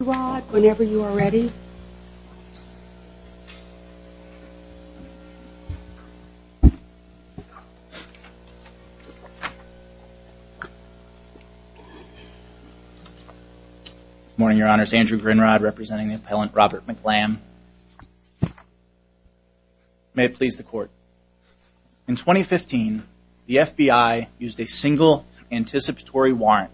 Rod whenever you are ready morning your honors Andrew Grinrod representing the appellant Robert McLamb may it please the court in 2015 the FBI used a single anticipatory warrant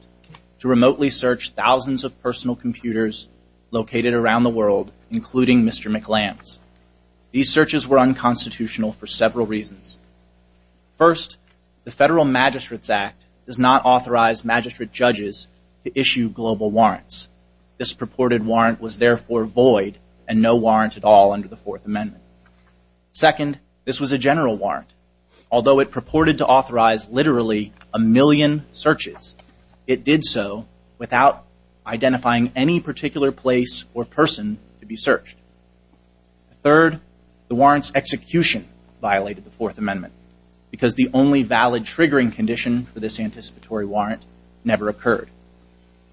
to remotely search thousands of personal computers located around the world including mr. McLamb's these searches were unconstitutional for several reasons first the Federal Magistrates Act does not authorize magistrate judges to issue global warrants this purported warrant was therefore void and no warrant at all under the Fourth Amendment second this was a general warrant although it purported to authorize literally a did so without identifying any particular place or person to be searched third the warrants execution violated the Fourth Amendment because the only valid triggering condition for this anticipatory warrant never occurred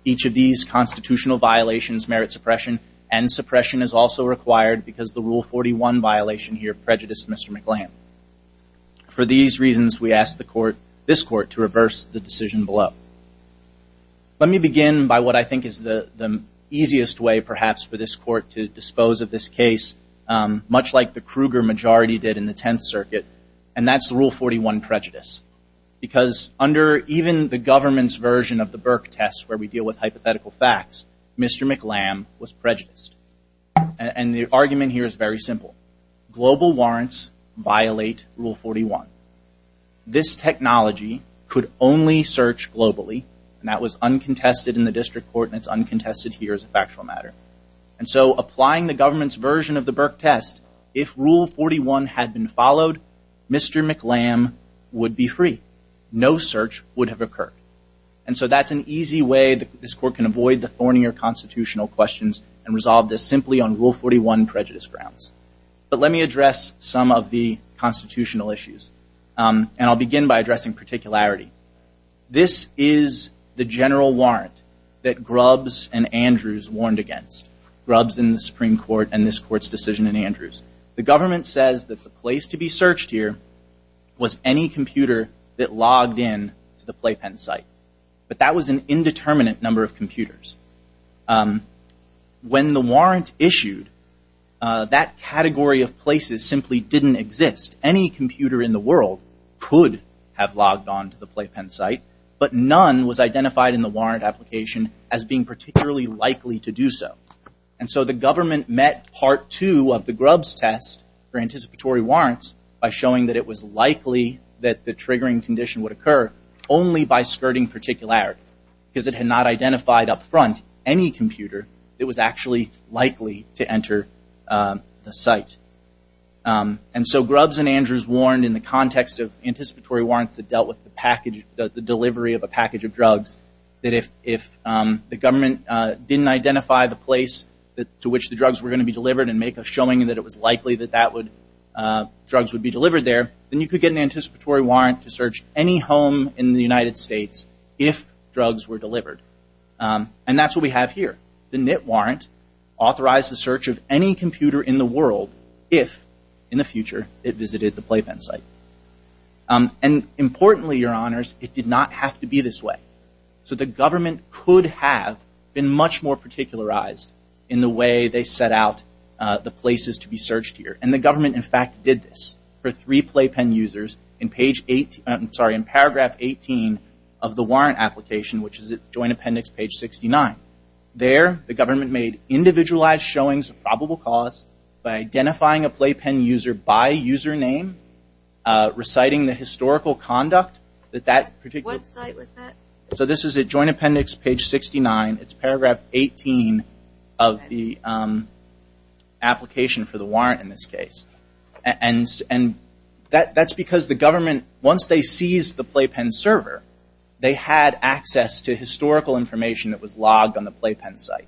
each of these constitutional violations merit suppression and suppression is also required because the rule 41 violation here prejudiced mr. McLamb for these reasons we asked the court this court to reverse the decision below let me begin by what I think is the easiest way perhaps for this court to dispose of this case much like the Kruger majority did in the Tenth Circuit and that's the rule 41 prejudice because under even the government's version of the Burke test where we deal with hypothetical facts mr. McLamb was prejudiced and the warrants violate rule 41 this technology could only search globally and that was uncontested in the district court and it's uncontested here as a factual matter and so applying the government's version of the Burke test if rule 41 had been followed mr. McLamb would be free no search would have occurred and so that's an easy way that this court can avoid the thornier constitutional questions and resolve this simply on rule 41 prejudice grounds but let me address some of the constitutional issues and I'll begin by addressing particularity this is the general warrant that grubs and Andrews warned against grubs in the Supreme Court and this court's decision in Andrews the government says that the place to be searched here was any computer that logged in to the playpen site but that was an indeterminate number of computers when the warrant issued that category of places simply didn't exist any computer in the world could have logged on to the playpen site but none was identified in the warrant application as being particularly likely to do so and so the government met part two of the grubs test for anticipatory warrants by showing that it was likely that the triggering condition would occur only by skirting particularity because it had identified up front any computer it was actually likely to enter the site and so grubs and Andrews warned in the context of anticipatory warrants that dealt with the package the delivery of a package of drugs that if if the government didn't identify the place that to which the drugs were going to be delivered and make a showing that it was likely that that would drugs would be delivered there then you could get an anticipatory warrant to search any home in the United States if drugs were delivered and that's what we have here the knit warrant authorized the search of any computer in the world if in the future it visited the playpen site and importantly your honors it did not have to be this way so the government could have been much more particular eyes in the way they set out the places to be searched here and the government in fact did this for three playpen users in page 8 I'm sorry in paragraph 18 of the warrant application which is a joint appendix page 69 there the government made individualized showings probable cause by identifying a playpen user by username reciting the historical conduct that that particular so this is a joint appendix page 69 it's paragraph 18 of the application for the warrant in this case and and that that's because the government once they seize the playpen server they had access to historical information that was logged on the playpen site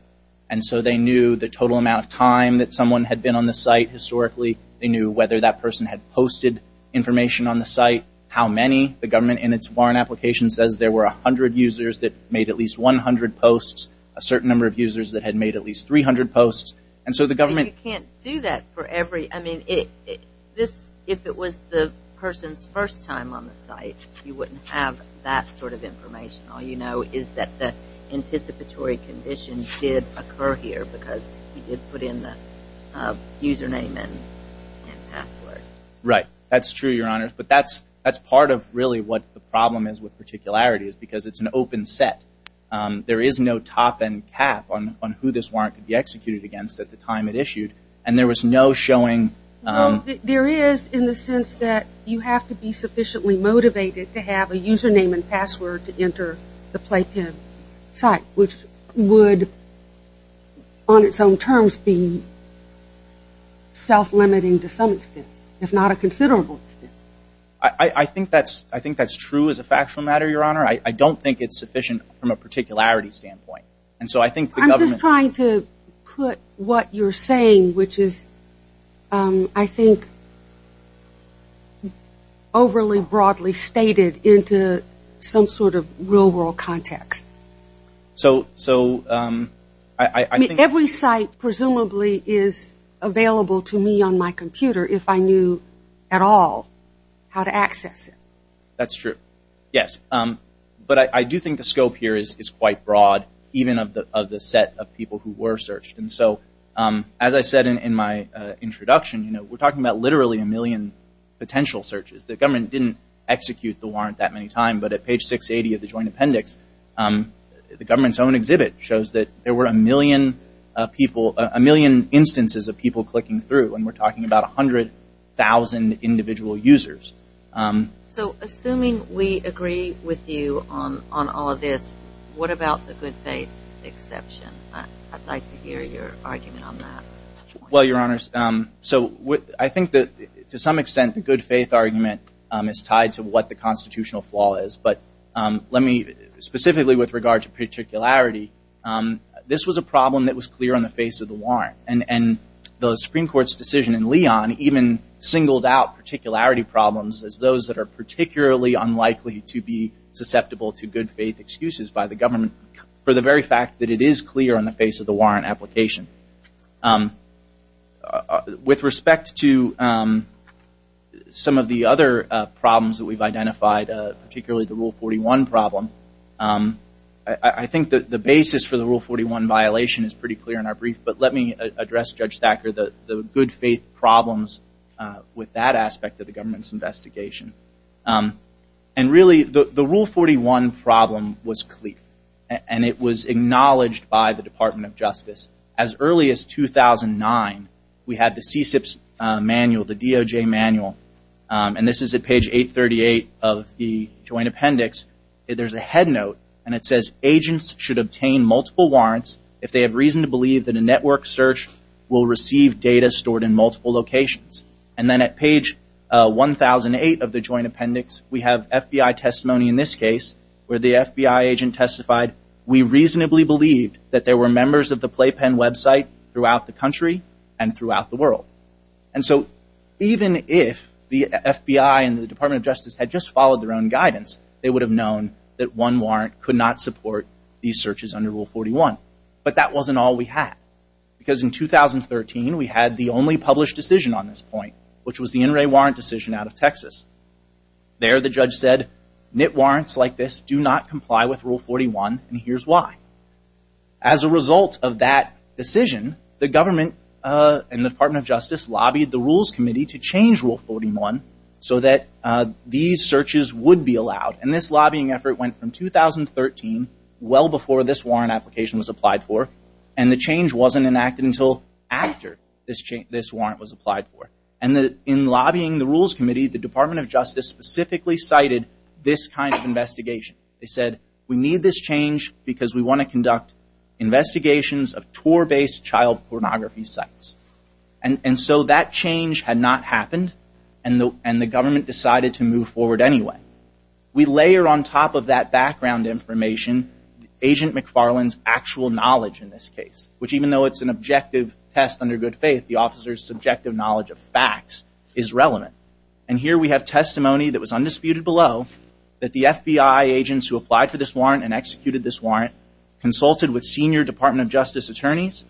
and so they knew the total amount of time that someone had been on the site historically they knew whether that person had posted information on the site how many the government in its warrant application says there were a hundred users that made at least 100 posts a certain number of users that had made at least 300 posts and so the government can't do that for every I mean it this if it was the person's first time on the site you wouldn't have that sort of information all you know is that the anticipatory condition did occur here because he did put in the username and password right that's true your honor but that's that's part of really what the problem is with particularity is because it's an open set there is no top-end cap on on who this warrant could be executed against at the time it issued and there was no showing there is in the sense that you have to be sufficiently motivated to have a username and password to enter the playpen site which would on its own terms be self-limiting to some extent if not a considerable I I think that's I think that's true as a factual matter your honor I don't think it's sufficient from a particularity standpoint and so I think I'm just trying to put what you're saying which is I think overly broadly stated into some sort of real world context so so I mean every site presumably is available to me on my computer if I knew at all how to access it that's true yes but I do think the scope here is quite broad even of the of the set of people who were searched and so as I said in my introduction you know we're talking about literally a million potential searches the government didn't execute the warrant that many time but at page 680 of the joint appendix the government's own exhibit shows that there were a million people a million instances of people clicking through and we're talking about a hundred thousand individual users so assuming we agree with you on on all of this what about the good faith exception I'd like to hear your argument on that well your honors um so what I think that to some extent the good faith argument is tied to what the constitutional flaw is but let me specifically with regard to particularity this was a problem that was clear on the face of the warrant and and the Supreme Court's decision in Leon even singled out particularity problems as those that are particularly unlikely to be susceptible to good faith excuses by the government for the very fact that it is clear on the face of the warrant application with respect to some of the other problems that we've identified particularly the rule 41 problem I think that the basis for the rule 41 violation is pretty clear in our brief but let me address Judge Thacker that the good faith problems with that aspect of the government's investigation and really the the rule 41 problem was cleat and it was acknowledged by the Department of Justice as early as 2009 we had the CSIP manual the DOJ manual and this is a page 838 of the joint appendix there's a head note and it says agents should obtain multiple warrants if they have reason to believe that a network search will receive data stored in multiple locations and then at page 1008 of the joint appendix we have FBI testimony in this case where the FBI agent testified we reasonably believed that there were members of the playpen website throughout the country and throughout the world and so even if the FBI and the Department of Justice had just followed their own guidance they would have known that one warrant could not support these searches under rule 41 but that wasn't all we had because in 2013 we had the only published decision on this point which was the NRA warrant decision out of Texas there the judge said knit warrants like this do not comply with rule 41 and here's why as a result of that decision the government and the Department of Justice lobbied the Rules Committee to change rule 41 so that these searches would be allowed and this lobbying effort went from 2013 well before this warrant application was applied for and the change wasn't enacted until after this change this applied for and that in lobbying the Rules Committee the Department of Justice specifically cited this kind of investigation they said we need this change because we want to conduct investigations of tour based child pornography sites and and so that change had not happened and though and the government decided to move forward anyway we layer on top of that background information agent McFarland's actual knowledge in this case which even though it's an objective test under good faith the officers subjective knowledge of facts is relevant and here we have testimony that was undisputed below that the FBI agents who applied for this warrant and executed this warrant consulted with senior Department of Justice attorneys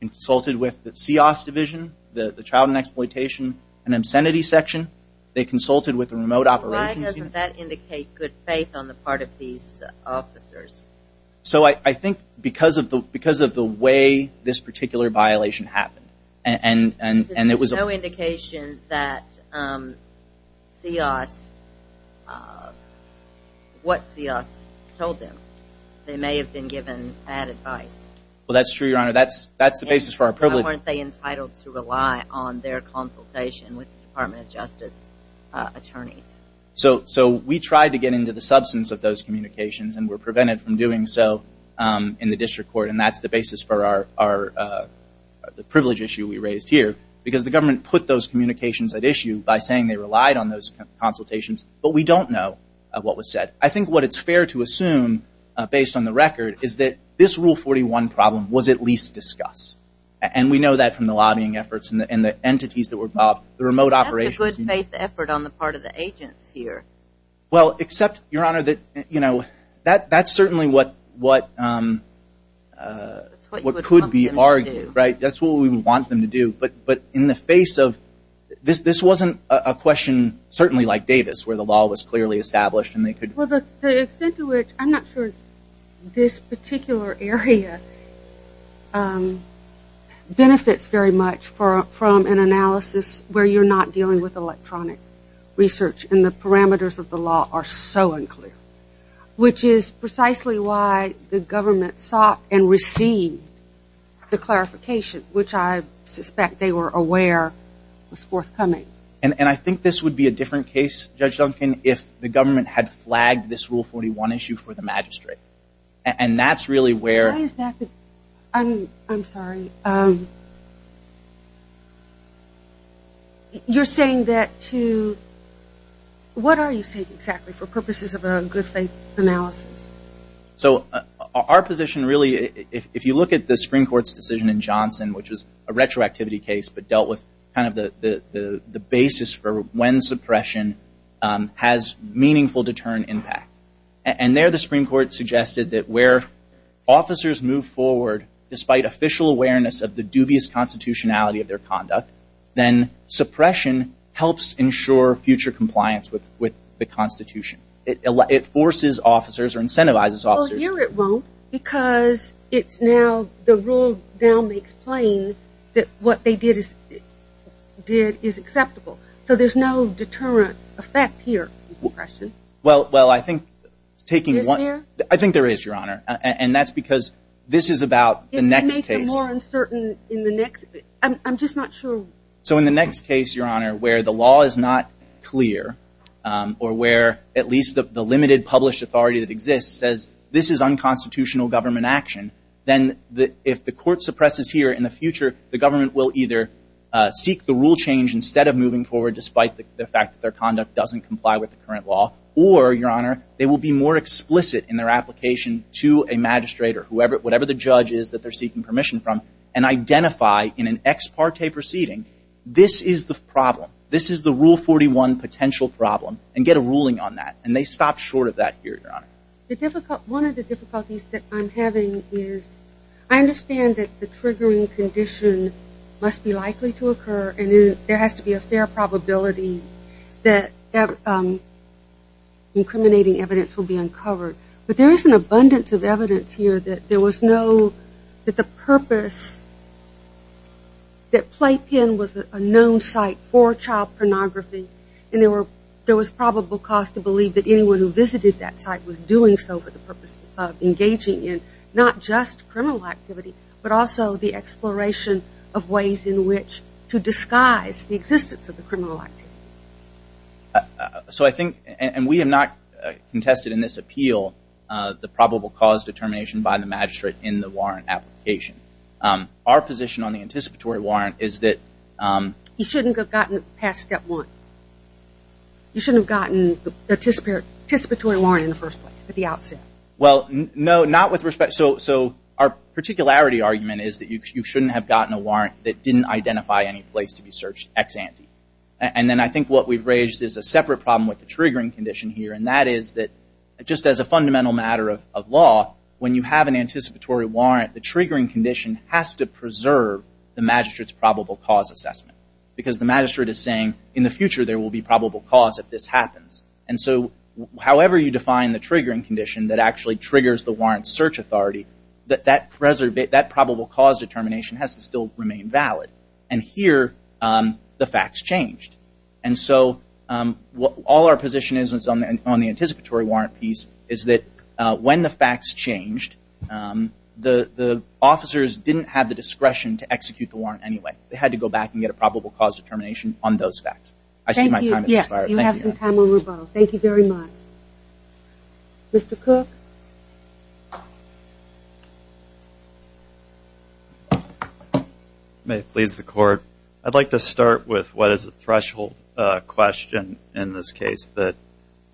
and consulted with the CIOs division the the child and exploitation and obscenity section they consulted with the remote operations that indicate good faith on the part of these officers so I think because of the because of the way this particular violation happened and and and it was no indication that CIOs what CIOs told them they may have been given bad advice well that's true your honor that's that's the basis for our privilege weren't they entitled to rely on their consultation with Department of Justice attorneys so so we tried to get into the communications and were prevented from doing so in the district court and that's the basis for our the privilege issue we raised here because the government put those communications at issue by saying they relied on those consultations but we don't know what was said I think what it's fair to assume based on the record is that this rule 41 problem was at least discussed and we know that from the lobbying efforts and the entities that were involved the remote operation good faith effort on the part of the agents here well except your honor that you know that that's certainly what what what could be argued right that's what we want them to do but but in the face of this this wasn't a question certainly like Davis where the law was clearly established and they could well the extent to which I'm not sure this particular area benefits very much for from an analysis where you're not dealing with electronic research in the parameters of the law are so unclear which is precisely why the government sought and received the clarification which I suspect they were aware was forthcoming and and I think this would be a different case judge Duncan if the government had flagged this rule 41 issue for the magistrate and that's really where I'm sorry you're saying that to what are you saying exactly for purposes of a good faith analysis so our position really if you look at the Supreme Court's decision in Johnson which was a retroactivity case but dealt with kind of the the the basis for when suppression has meaningful deterrent impact and there the Supreme Court suggested that where officers move forward despite official awareness of the dubious constitutionality of their conduct then suppression helps ensure future compliance with with the Constitution it forces officers or incentivizes officers here it won't because it's now the rule now makes plain that what they did is did is well well I think taking one I think there is your honor and that's because this is about the next case in the next I'm just not sure so in the next case your honor where the law is not clear or where at least the limited published authority that exists says this is unconstitutional government action then the if the court suppresses here in the future the government will either seek the rule change instead of moving forward despite the fact that their or your honor they will be more explicit in their application to a magistrate or whoever whatever the judge is that they're seeking permission from and identify in an ex parte proceeding this is the problem this is the rule 41 potential problem and get a ruling on that and they stop short of that here your honor the difficult one of the difficulties that I'm having is I understand that the triggering condition must be likely to occur and there has to be a fair probability that incriminating evidence will be uncovered but there is an abundance of evidence here that there was no that the purpose that play pin was a known site for child pornography and there were there was probable cause to believe that anyone who visited that site was doing so for the purpose of engaging in not just criminal activity but also the exploration of ways in which to disguise the existence of the criminal activity. So I think and we have not contested in this appeal the probable cause determination by the magistrate in the warrant application. Our position on the anticipatory warrant is that. You shouldn't have gotten past step one. You shouldn't have gotten the anticipatory warrant in the first place at the outset. Well no not with respect so so our particularity argument is that you shouldn't have gotten a warrant that didn't identify any place to be searched ex ante and then I think what we've raised is a separate problem with the triggering condition here and that is that just as a fundamental matter of law when you have an anticipatory warrant the triggering condition has to preserve the magistrate's probable cause assessment because the magistrate is saying in the future there will be probable cause if this happens and so however you define the triggering condition that actually triggers the determination has to still remain valid and here the facts changed and so all our position is on the anticipatory warrant piece is that when the facts changed the officers didn't have the discretion to execute the warrant anyway. They had to go back and get a probable cause determination on those facts. I see my time has expired. Thank you. You have some time on rebuttal. Thank you very much. Mr. Cook. May it please the court. I'd like to start with what is a threshold question in this case that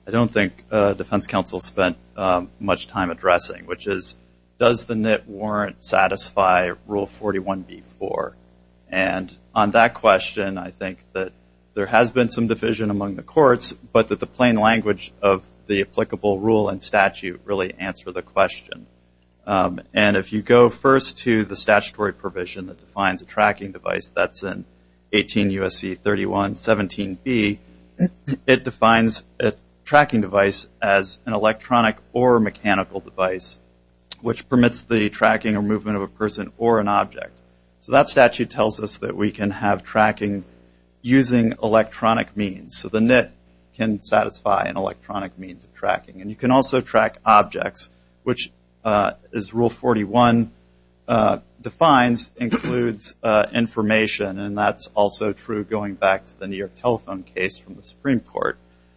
I don't think defense counsel spent much time addressing which is does the knit warrant satisfy rule 41b-4 and on that question I think that there has been some discussion in the courts but that the plain language of the applicable rule and statute really answer the question and if you go first to the statutory provision that defines a tracking device that's in 18 U.S.C. 31-17b it defines a tracking device as an electronic or mechanical device which permits the tracking or movement of a person or an object so that statute tells us that we can satisfy an electronic means of tracking and you can also track objects which is rule 41 defines includes information and that's also true going back to the New York telephone case from the Supreme Court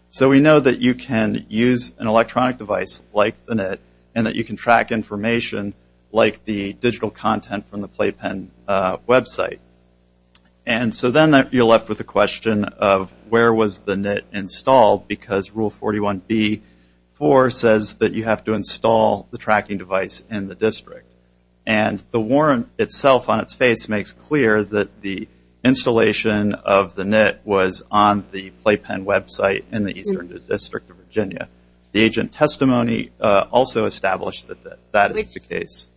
so we know that you can use an electronic device like the knit and that you can track information like the digital content from the playpen website and so then you're left with the question of where was the knit installed because rule 41b-4 says that you have to install the tracking device in the district and the warrant itself on its face makes clear that the installation of the knit was on the playpen website in the Eastern District of Virginia the agent testimony also established that that is the case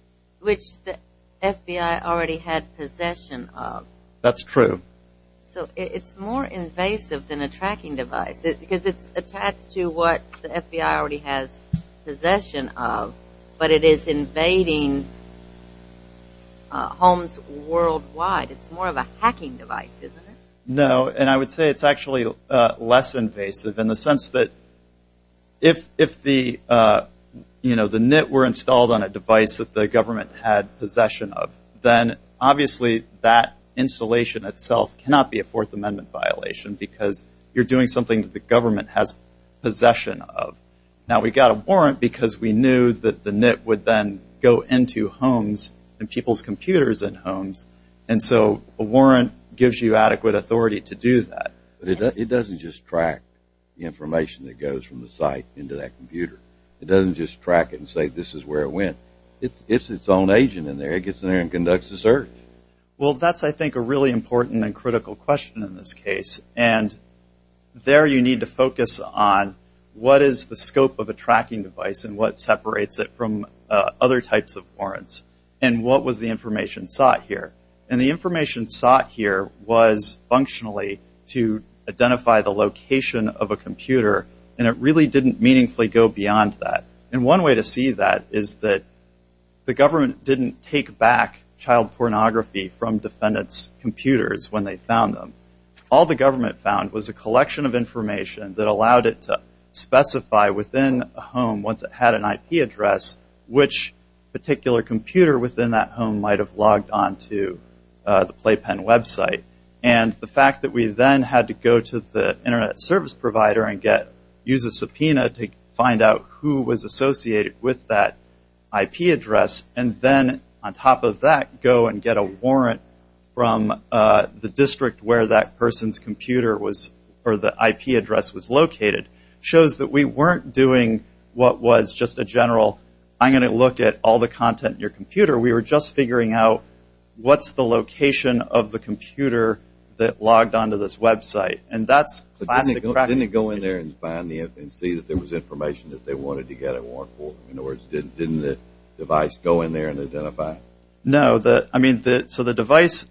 which the FBI already had possession of that's true so it's more invasive than a tracking device because it's attached to what the FBI already has possession of but it is invading homes worldwide it's more of a hacking device no and I would say it's actually less invasive in the sense that if if the you know the knit were installed on a device that the obviously that installation itself cannot be a Fourth Amendment violation because you're doing something the government has possession of now we got a warrant because we knew that the knit would then go into homes and people's computers and homes and so a warrant gives you adequate authority to do that but it doesn't just track the information that goes from the site into that computer it doesn't just track it and say this is where it went it's its own agent in there it gets in there and conducts a search well that's I think a really important and critical question in this case and there you need to focus on what is the scope of a tracking device and what separates it from other types of warrants and what was the information sought here and the information sought here was functionally to identify the location of a computer and it really didn't meaningfully go beyond that and one way to see that is that the government didn't take back child pornography from defendants computers when they found them all the government found was a collection of information that allowed it to specify within a home once it had an IP address which particular computer within that home might have logged on to the playpen website and the fact that we then had to go to the internet service provider and use a subpoena to find out who was associated with that IP address and then on top of that go and get a warrant from the district where that person's computer was or the IP address was located shows that we weren't doing what was just a general I'm gonna look at all the content in your computer we were just figuring out what's the location of the computer that logged on to this website and that's classic practice. Didn't it go in there and see that there was information that they wanted to get a warrant for in other words didn't the device go in there and identify? No, so the device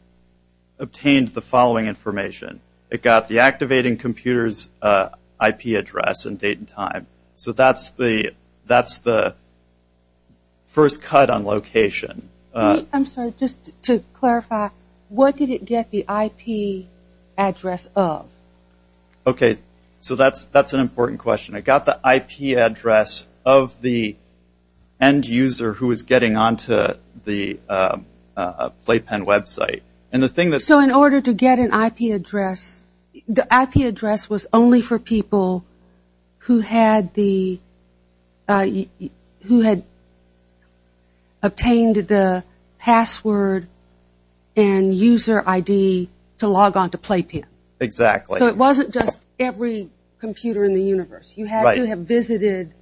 obtained the following information it got the activating computer's IP address and date and time so that's the first cut on location. I'm sorry just to clarify what did it get the IP address of? Okay so that's that's an important question I got the IP address of the end user who is getting on to the playpen website and the thing that. So in order to get an IP address the IP address was only for people who had the who had obtained the password and user ID to log on to playpen. Exactly. So it wasn't just every computer in the universe you had to have visited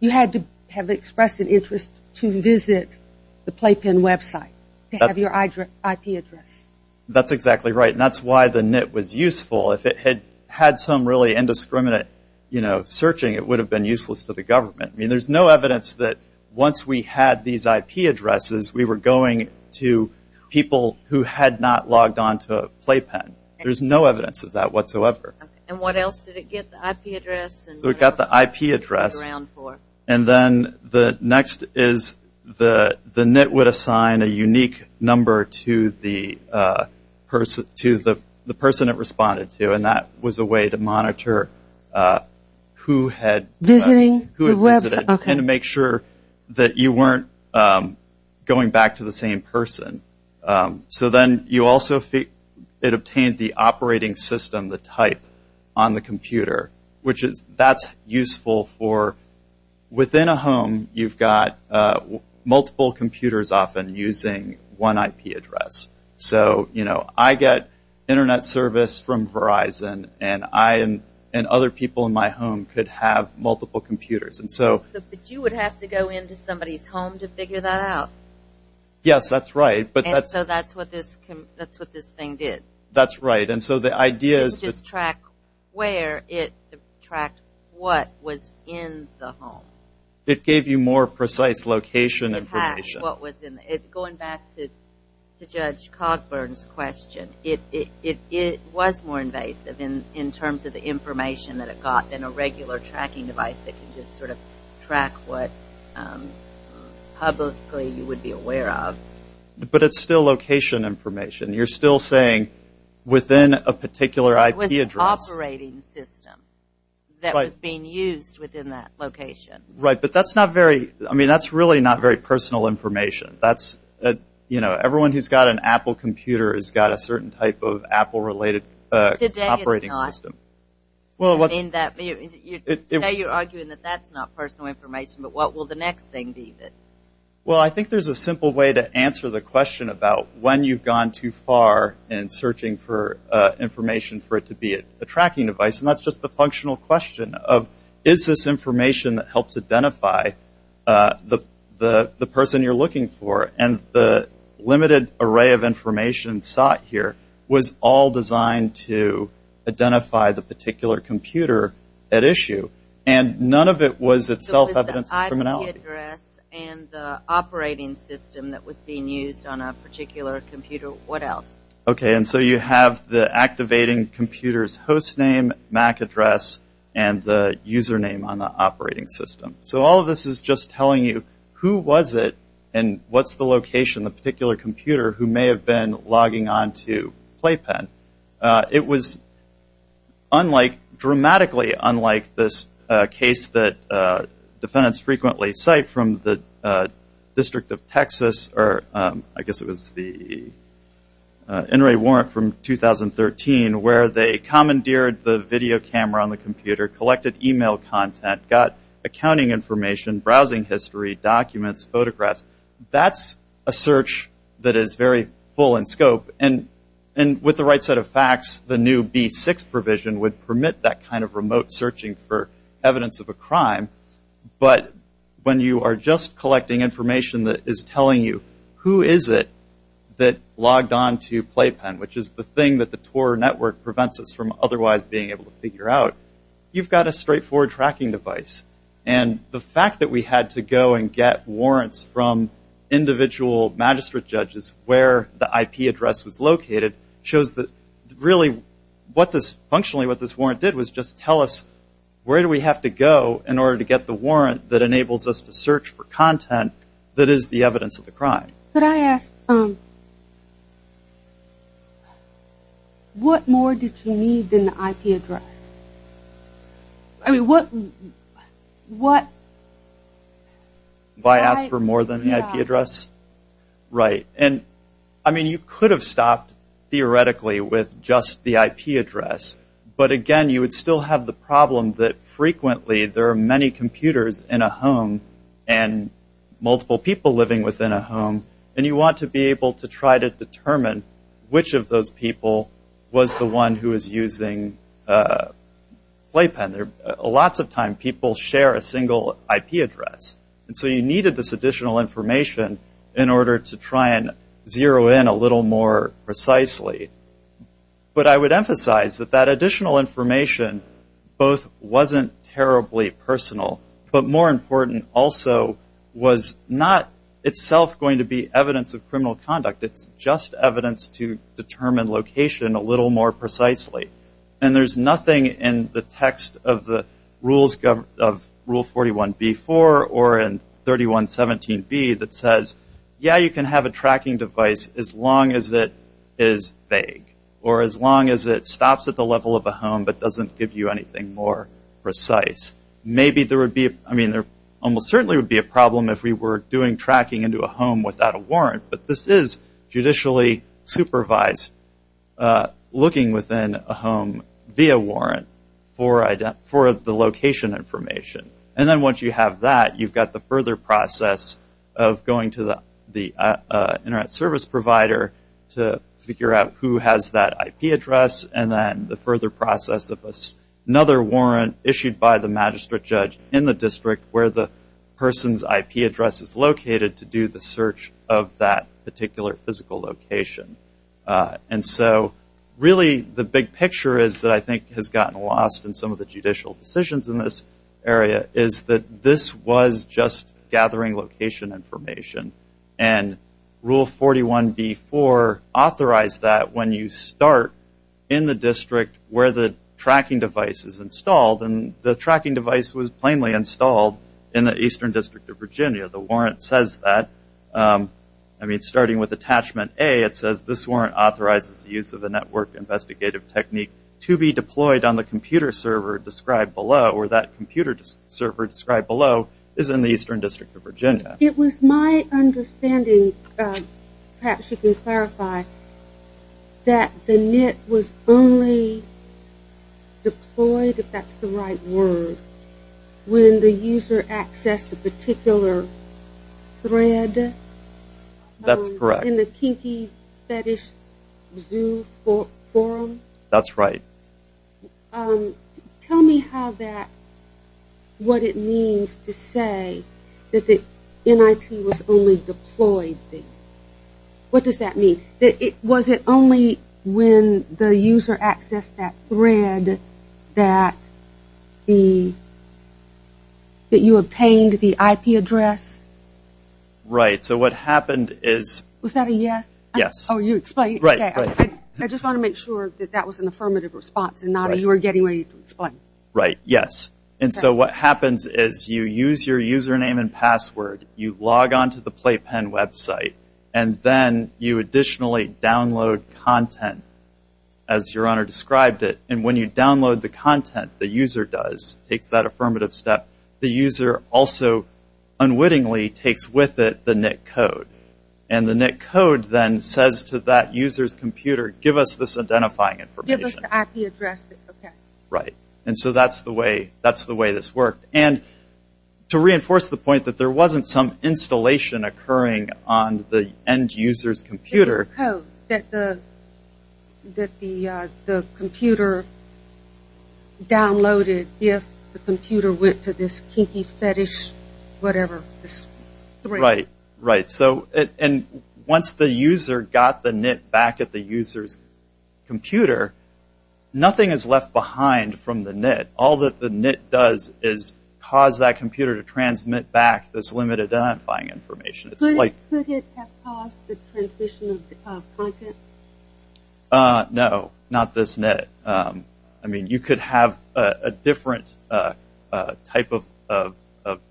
you had to have expressed an interest to visit the playpen website to have your IP address. That's exactly right and that's why the NIT was useful if it had had some really indiscriminate you know searching it would have been useless to the government. I mean there's no evidence that once we had these IP addresses we were going to people who had not logged on to playpen. There's no evidence of that whatsoever. And what else did it get the IP address? So it got the IP address and then the next is the the NIT would assign a unique number to the person to the person it responded to and that was a way to monitor who had visiting the website and to make sure that you weren't going back to the same person. So then you also it obtained the operating system the type on the computer which is that's useful for within a home you've got multiple computers often using one IP address. So you know I get internet service from Verizon and I am and other people in my home could have multiple computers. And so you would have to go into somebody's home to figure that out. Yes that's right. But that's so that's what this that's what this thing did. That's right. And so the idea is to track where it tracked what was in the home. It gave you more precise location information. In fact what was in it going back to Judge Cogburn's question it it it was more invasive in in terms of the information that it got than a regular tracking device that could just sort of track what publicly you would be aware of. But it's still location information. You're still saying within a particular IP address. It was an operating system that was being used within that location. Right. But that's not very I mean that's really not very personal information. That's you know everyone who's got an Apple computer has got a certain type of Apple related operating system. Well what I mean that you know you're arguing that that's not personal information. But what will the next thing be that well I think there's a simple way to answer the question about when you've gone too far in searching for information for it to be a tracking device. And that's just the functional question of is this information that helps identify the the the person you're looking for and the limited array of information sought here was all designed to identify the particular computer at issue and none of it was itself evidence of criminality. So it was the IP address and the operating system that was being used on a particular computer. What else? Okay. And so you have the activating computer's hostname, MAC address and the username on the operating system. So all of this is just telling you who was it and what's the location the particular computer who may have been logging on to Playpen. It was unlike dramatically unlike this case that defendants frequently cite from the District of Texas or I guess it was the NRA warrant from 2013 where they commandeered the video camera on the computer, collected email content, got accounting information, browsing history, documents, photographs. That's a search that is very full in scope and with the right set of facts the new B6 provision would permit that kind of remote searching for evidence of a crime. But when you are just collecting information that is telling you who is it that logged on to Playpen, which is the thing that the TOR network prevents us from otherwise being able to figure out, you've got a straightforward tracking device. And the fact that we had to go and get warrants from individual magistrate judges where the IP address was located shows that really what this functionally what this warrant did was just tell us where do we have to go in order to get the warrant that enables us to search for content that is the evidence of the crime. But I ask, what more did you need than the IP address? I mean what, what? Why ask for more than the IP address? Right. And I mean you could have stopped theoretically with just the IP address. But again you would still have the problem that frequently there are many computers in a home and multiple people living within a home and you want to be able to try to determine which of those people was the one who is using Playpen. Lots of time people share a single IP address. And so you needed this additional information in order to try and zero in a little more precisely. But I would emphasize that that additional information both wasn't terribly personal but more important also was not itself going to be evidence of criminal conduct. It's just evidence to determine location a little more precisely. And there's nothing in the text of the rules of Rule 41B4 or in 3117B that says yeah you can have a tracking device as long as it is vague or as long as it stops at the level of a home but doesn't give you anything more precise. Maybe there would be, I mean there almost certainly would be a problem if we were doing tracking into a home without a warrant. But this is judicially supervised looking within a home via warrant for the location information. And then once you have that you've got the further process of going to the internet service provider to figure out who has that IP address and then the further process of another warrant issued by the magistrate judge in the district where the person's IP address is located to do the search of that particular physical location. And so really the big picture is that I think has gotten lost in some of the judicial decisions in this area is that this was just gathering location information. And Rule 41B4 authorized that when you start in the district where the tracking device is installed and the tracking device was plainly installed in the Eastern District of Virginia. The warrant says that I mean starting with attachment A it says this warrant authorizes the use of a network investigative technique to be deployed on the computer server described below or that computer server described below is in the Eastern District of Virginia. It was my understanding perhaps you can clarify that the NIT was only deployed if that's the right word when the user accessed a particular thread. That's correct. In the Kinky Fetish Zoo forum. That's right. Tell me how that, what it means to say that the NIT was only deployed. What does that mean? Was it only when the user accessed that thread that you obtained the IP address? Right. So what happened is. Was that a yes? Yes. Oh you explained. Right. I just want to make sure that that was an affirmative response and not a you are getting ready to explain. Right. Yes. And so what happens is you use your username and password. You log on to the PlayPen website and then you additionally download content as your honor described it. And when you download the content the user does takes that affirmative step. The user also unwittingly takes with it the NIT code and the NIT code then says to that user's computer give us this identifying information. Give us the IP address. Right. And so that's the way that's the way this worked. And to reinforce the point that there wasn't some installation occurring on the end user's computer. It was a code that the computer downloaded if the computer went to this Kinky Fetish whatever. Right. Right. And once the user got the NIT back at the user's computer nothing is left behind from the NIT. All that the NIT does is cause that computer to transmit back this limited identifying information. Could it have caused the transition of content? No. Not this NIT. I mean you could have a different type of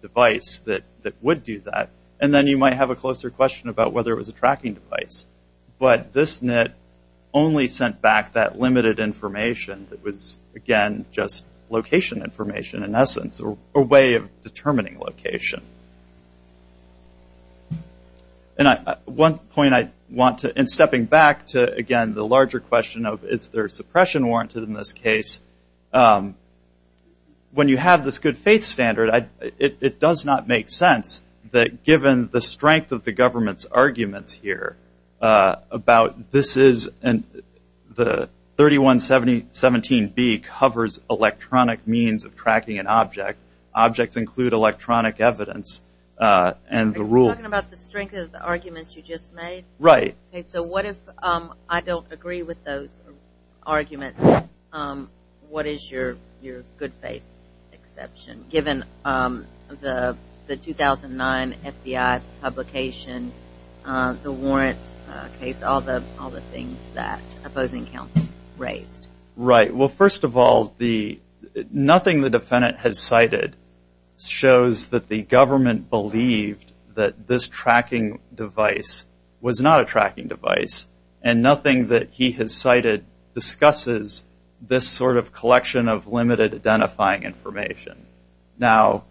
device that would do that and then you might have a closer question about whether it was a tracking device. But this NIT only sent back that limited information that was again just location information in essence or a way of determining location. And one point I want to and stepping back to again the larger question of is there suppression warranted in this case. When you have this good faith standard it does not make sense that given the strength of the government's arguments here about this is and the 3117B covers electronic means of tracking an object. Objects include electronic evidence and the rule. Are you talking about the strength of the arguments you just made? Right. Okay. So what if I don't agree with those arguments, what is your good faith exception given the 2009 FBI publication, the warrant case, all the things that opposing counsel raised? Right. Well first of all nothing the defendant has cited shows that the government believed that this tracking device was not a tracking device and nothing that he has cited discusses this sort of collection of limited identifying information. Now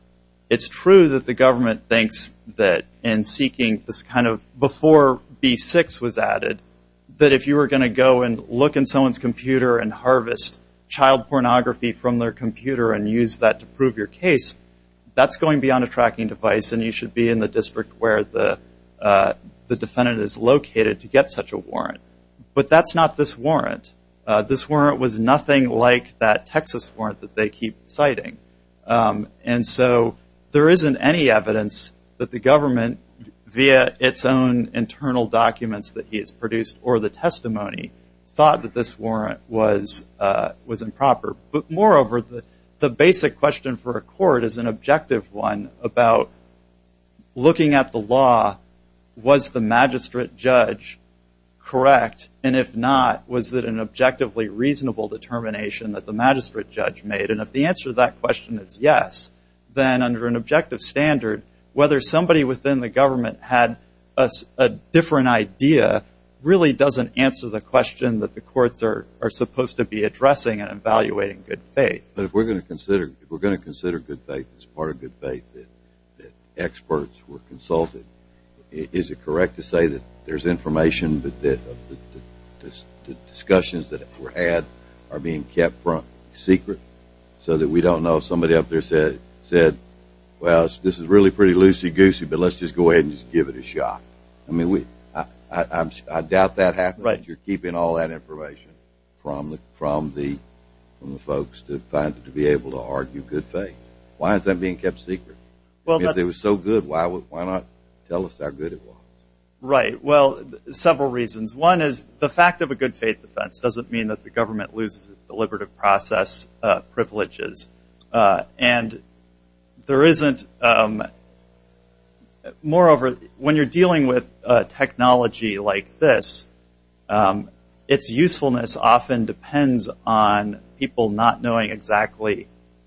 it's true that the government thinks that in seeking this kind of before B6 was added that if you were going to go and look in someone's computer and harvest child pornography from their computer and use that to prove your case that's going beyond a case and you should be in the district where the defendant is located to get such a warrant. But that's not this warrant. This warrant was nothing like that Texas warrant that they keep citing. And so there isn't any evidence that the government via its own internal documents that he has produced or the testimony thought that this warrant was improper. But moreover the basic question for a court is an objective one about looking at the law. Was the magistrate judge correct and if not was it an objectively reasonable determination that the magistrate judge made? And if the answer to that question is yes then under an objective standard whether somebody within the government had a different idea really doesn't answer the question that the good faith. But if we're going to consider we're going to consider good faith as part of good faith that experts were consulted. Is it correct to say that there's information that the discussions that were had are being kept from secret so that we don't know somebody up there said said well this is really pretty loosey goosey but let's just go ahead and just give it a shot. I mean we I doubt that happened. You're keeping all that information from the from the from the folks to be able to argue good faith. Why is that being kept secret? Well if it was so good why would why not tell us how good it was? Right. Well several reasons. One is the fact of a good faith defense doesn't mean that the government loses its deliberative process privileges. And there isn't moreover when you're dealing with technology like this its usefulness often depends on people not knowing exactly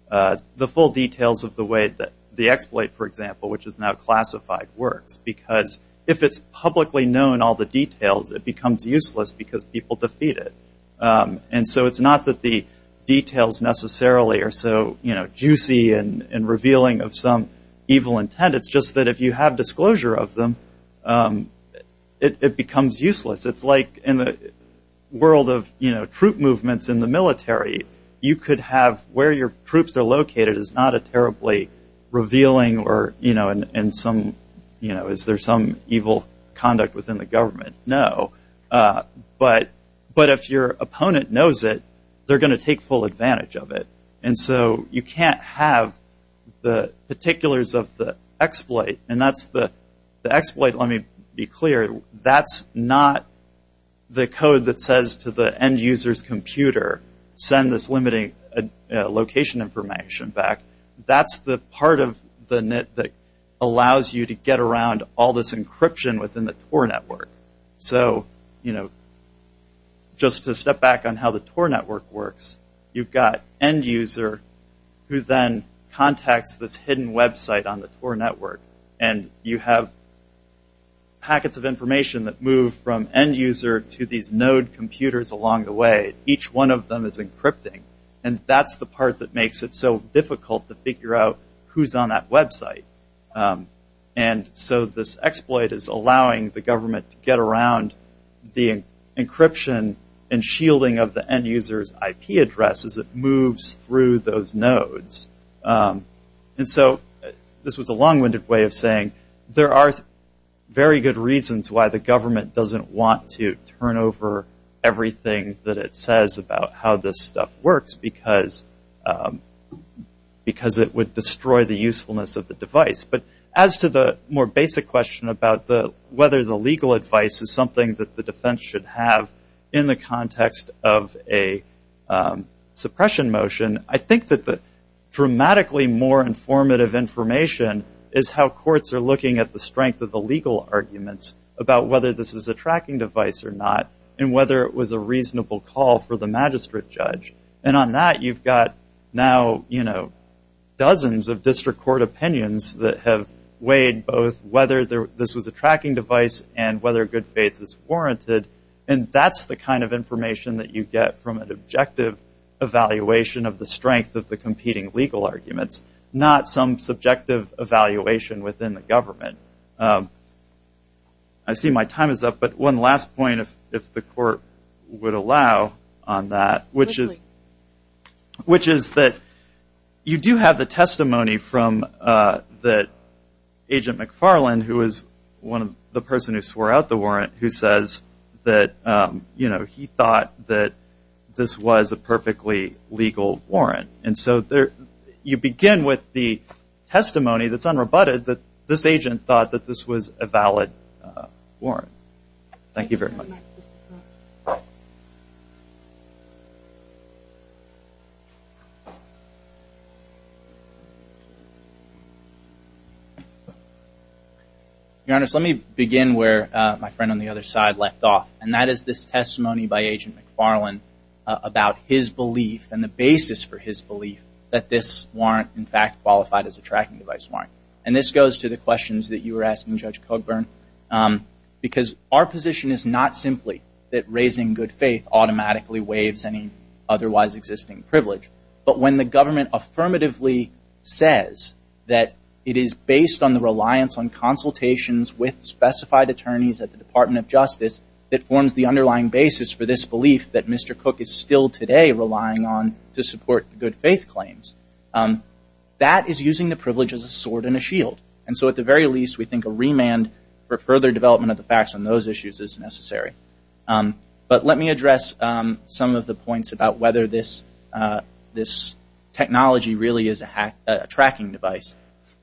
the full details of the way that the exploit for example which is now classified works because if it's publicly known all the details it becomes useless because people defeat it. And so it's not that the details necessarily are so juicy and revealing of some evil intent it's just that if you have disclosure of them it becomes useless. It's like in the world of you know troop movements in the military you could have where your troops are located is not a terribly revealing or you know and some you know is there some evil conduct within the government. No but but if your opponent knows it they're going to take full advantage of it. And so you can't have the particulars of the exploit and that's the exploit. Let me be clear that's not the code that says to the end users computer send this limiting location information back. That's the part of the net that allows you to get around all this encryption within the TOR network. So you know just to step back on how the TOR network works you've got end user who then contacts this hidden website on the TOR network and you have packets of information that move from end user to these node computers along the way. Each one of them is encrypting and that's the part that makes it so difficult to figure out who's on that website. And so this exploit is allowing the government to get around the encryption and shielding of the end users IP addresses it moves through those nodes. And so this was a long winded way of saying there are very good reasons why the government doesn't want to turn over everything that it says about how this stuff works because it would destroy the usefulness of the device. But as to the more basic question about whether the legal advice is something that the defense should have in the context of a suppression motion I think that the dramatically more informative information is how courts are looking at the strength of the legal arguments about whether this is a tracking device or not and whether it was a reasonable call for the magistrate judge. And on that you've got now you know dozens of district court opinions that have weighed both whether this was a tracking device and whether good faith is warranted and that's the kind of information that you get from an objective evaluation of the strength of the competing legal arguments not some subjective evaluation within the government. I see my time is up but one last point if the court would allow on that which is which is that you do have the testimony from that agent McFarland who is one of the person who swore out the warrant who says that you know he thought that this was a perfectly legal warrant and so there you begin with the testimony that's unrebutted that this agent thought that this was a valid warrant. Thank you very much. Your Honor let me begin where my friend on the other side left off and that is this testimony by agent McFarland about his belief and the basis for his belief that this goes to the questions that you were asking Judge Cogburn because our position is not simply that raising good faith automatically waives any otherwise existing privilege but when the government affirmatively says that it is based on the reliance on consultations with specified attorneys at the Department of Justice that forms the underlying basis for this belief that Mr. Cook is still today relying on to support good faith claims that is using the privilege as a sword and a shield. And so at the very least we think a remand for further development of the facts on those issues is necessary. But let me address some of the points about whether this this technology really is a tracking device.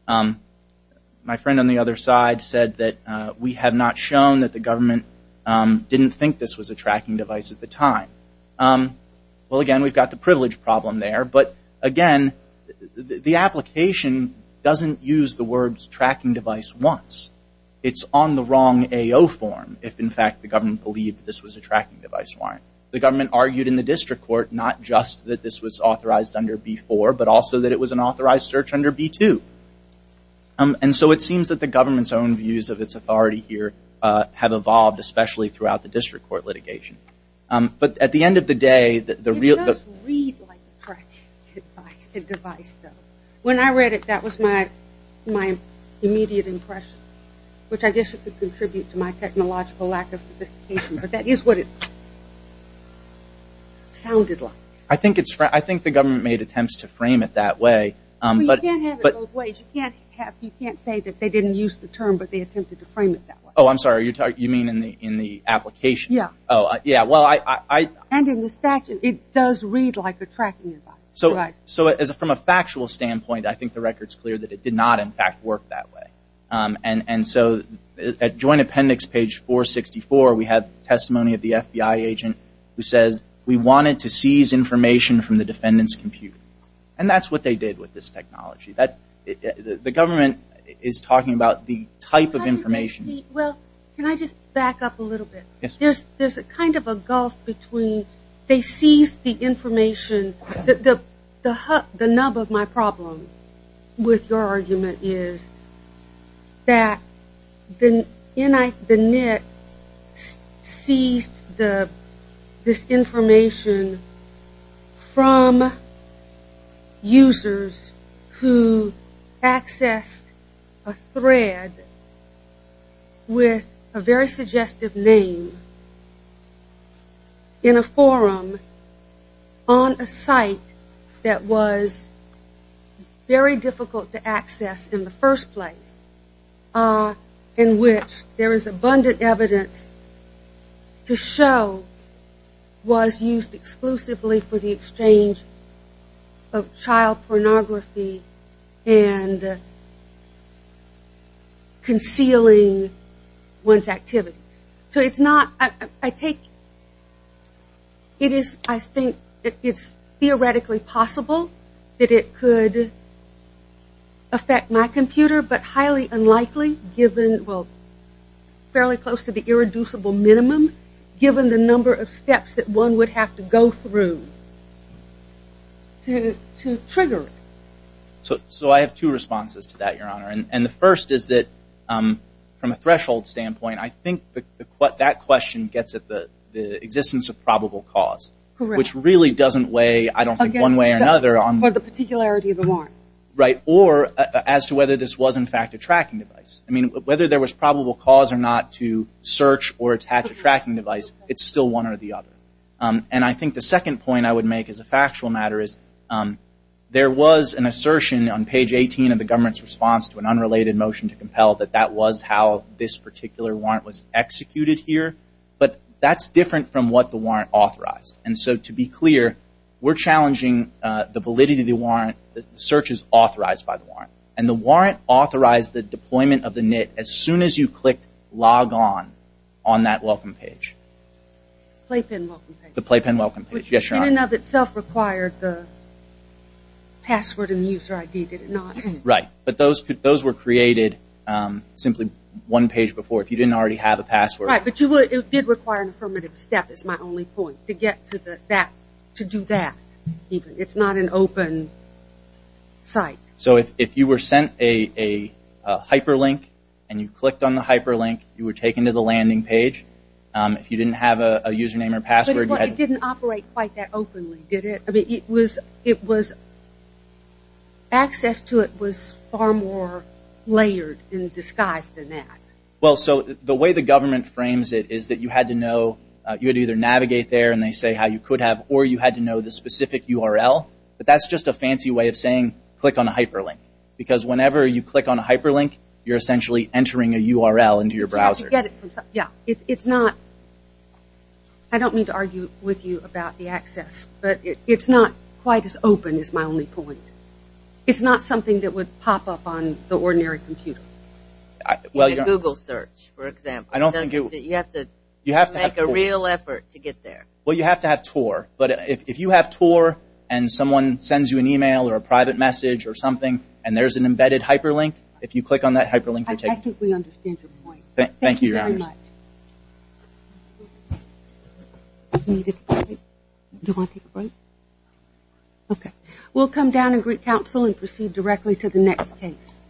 My friend on the other side said that we have not shown that the government didn't think this was a tracking device at the time. Well again we've got the privilege problem there but again the application doesn't use the words tracking device once. It's on the wrong AO form if in fact the government believed this was a tracking device warrant. The government argued in the district court not just that this was authorized under B4 but also that it was an authorized search under B2. And so it seems that the government's own views of its authority here have evolved especially throughout the district court litigation. But at the end of the day that the real. It does read like a tracking device though. When I read it that was my immediate impression which I guess it could contribute to my technological lack of sophistication but that is what it sounded like. I think it's I think the government made attempts to frame it that way. You can't have it both ways. You can't say that they didn't use the term but they attempted to frame it that way. Oh I'm sorry you're talking you mean in the in the application. Yeah. Oh yeah. Well I and in the statute it does read like a tracking device. So so as from a factual standpoint I think the record's clear that it did not in fact work that way. And so at Joint Appendix page 464 we have testimony of the FBI agent who says we wanted to seize information from the defendant's computer and that's what they did with this technology that the government is talking about the type of information. Well can I just back up a little bit. Yes. There's a kind of a gulf between they seized the information that the hub the nub of my problem with your argument is that the NIT the NIT seized the this information from users who accessed a thread with a very suggestive name in a forum on a site that was very difficult to access in the first place in which there is abundant evidence to show was used exclusively for the exchange of child pornography and concealing one's activities. So it's not I take it is I think it's theoretically possible that it could affect my to be irreducible minimum given the number of steps that one would have to go through to trigger. So so I have two responses to that Your Honor and the first is that from a threshold standpoint I think what that question gets at the existence of probable cause which really doesn't weigh I don't think one way or another on the particularity of the warrant right or as to whether this was in fact a tracking device. I mean whether there was probable cause or not to search or attach a tracking device it's still one or the other. And I think the second point I would make is a factual matter is there was an assertion on page 18 of the government's response to an unrelated motion to compel that that was how this particular warrant was executed here. But that's different from what the warrant authorized. And so to be clear we're challenging the validity of the warrant. The search is authorized by the warrant and the warrant authorized the deployment of the NIT as soon as you click log on on that welcome page. The playpen welcome page. Yes Your Honor. It in and of itself required the password and user ID did it not? Right. But those were created simply one page before. If you didn't already have a password. Right. But it did require an affirmative step is my only point to get to that to do that. It's not an open site. So if you were sent a hyperlink and you clicked on the hyperlink you were taken to the landing page. If you didn't have a username or password. But it didn't operate quite that openly did it? I mean it was it was access to it was far more layered in disguise than that. Well so the way the government frames it is that you had to know you had to either navigate there and they say how you could have or you had to know the specific URL. But that's just a fancy way of saying click on a hyperlink because whenever you click on a hyperlink you're essentially entering a URL into your browser. Yeah it's not I don't mean to argue with you about the access but it's not quite as open is my only point. It's not something that would pop up on the ordinary computer. Well Google search for example. I don't think you have to you have to make a real effort to get there. Well you have to have TOR. But if you have TOR and someone sends you an email or a private message or something and there's an embedded hyperlink if you click on that hyperlink you're taken. I think we understand your point. Thank you very much. We'll come down and greet counsel and proceed directly to the next case.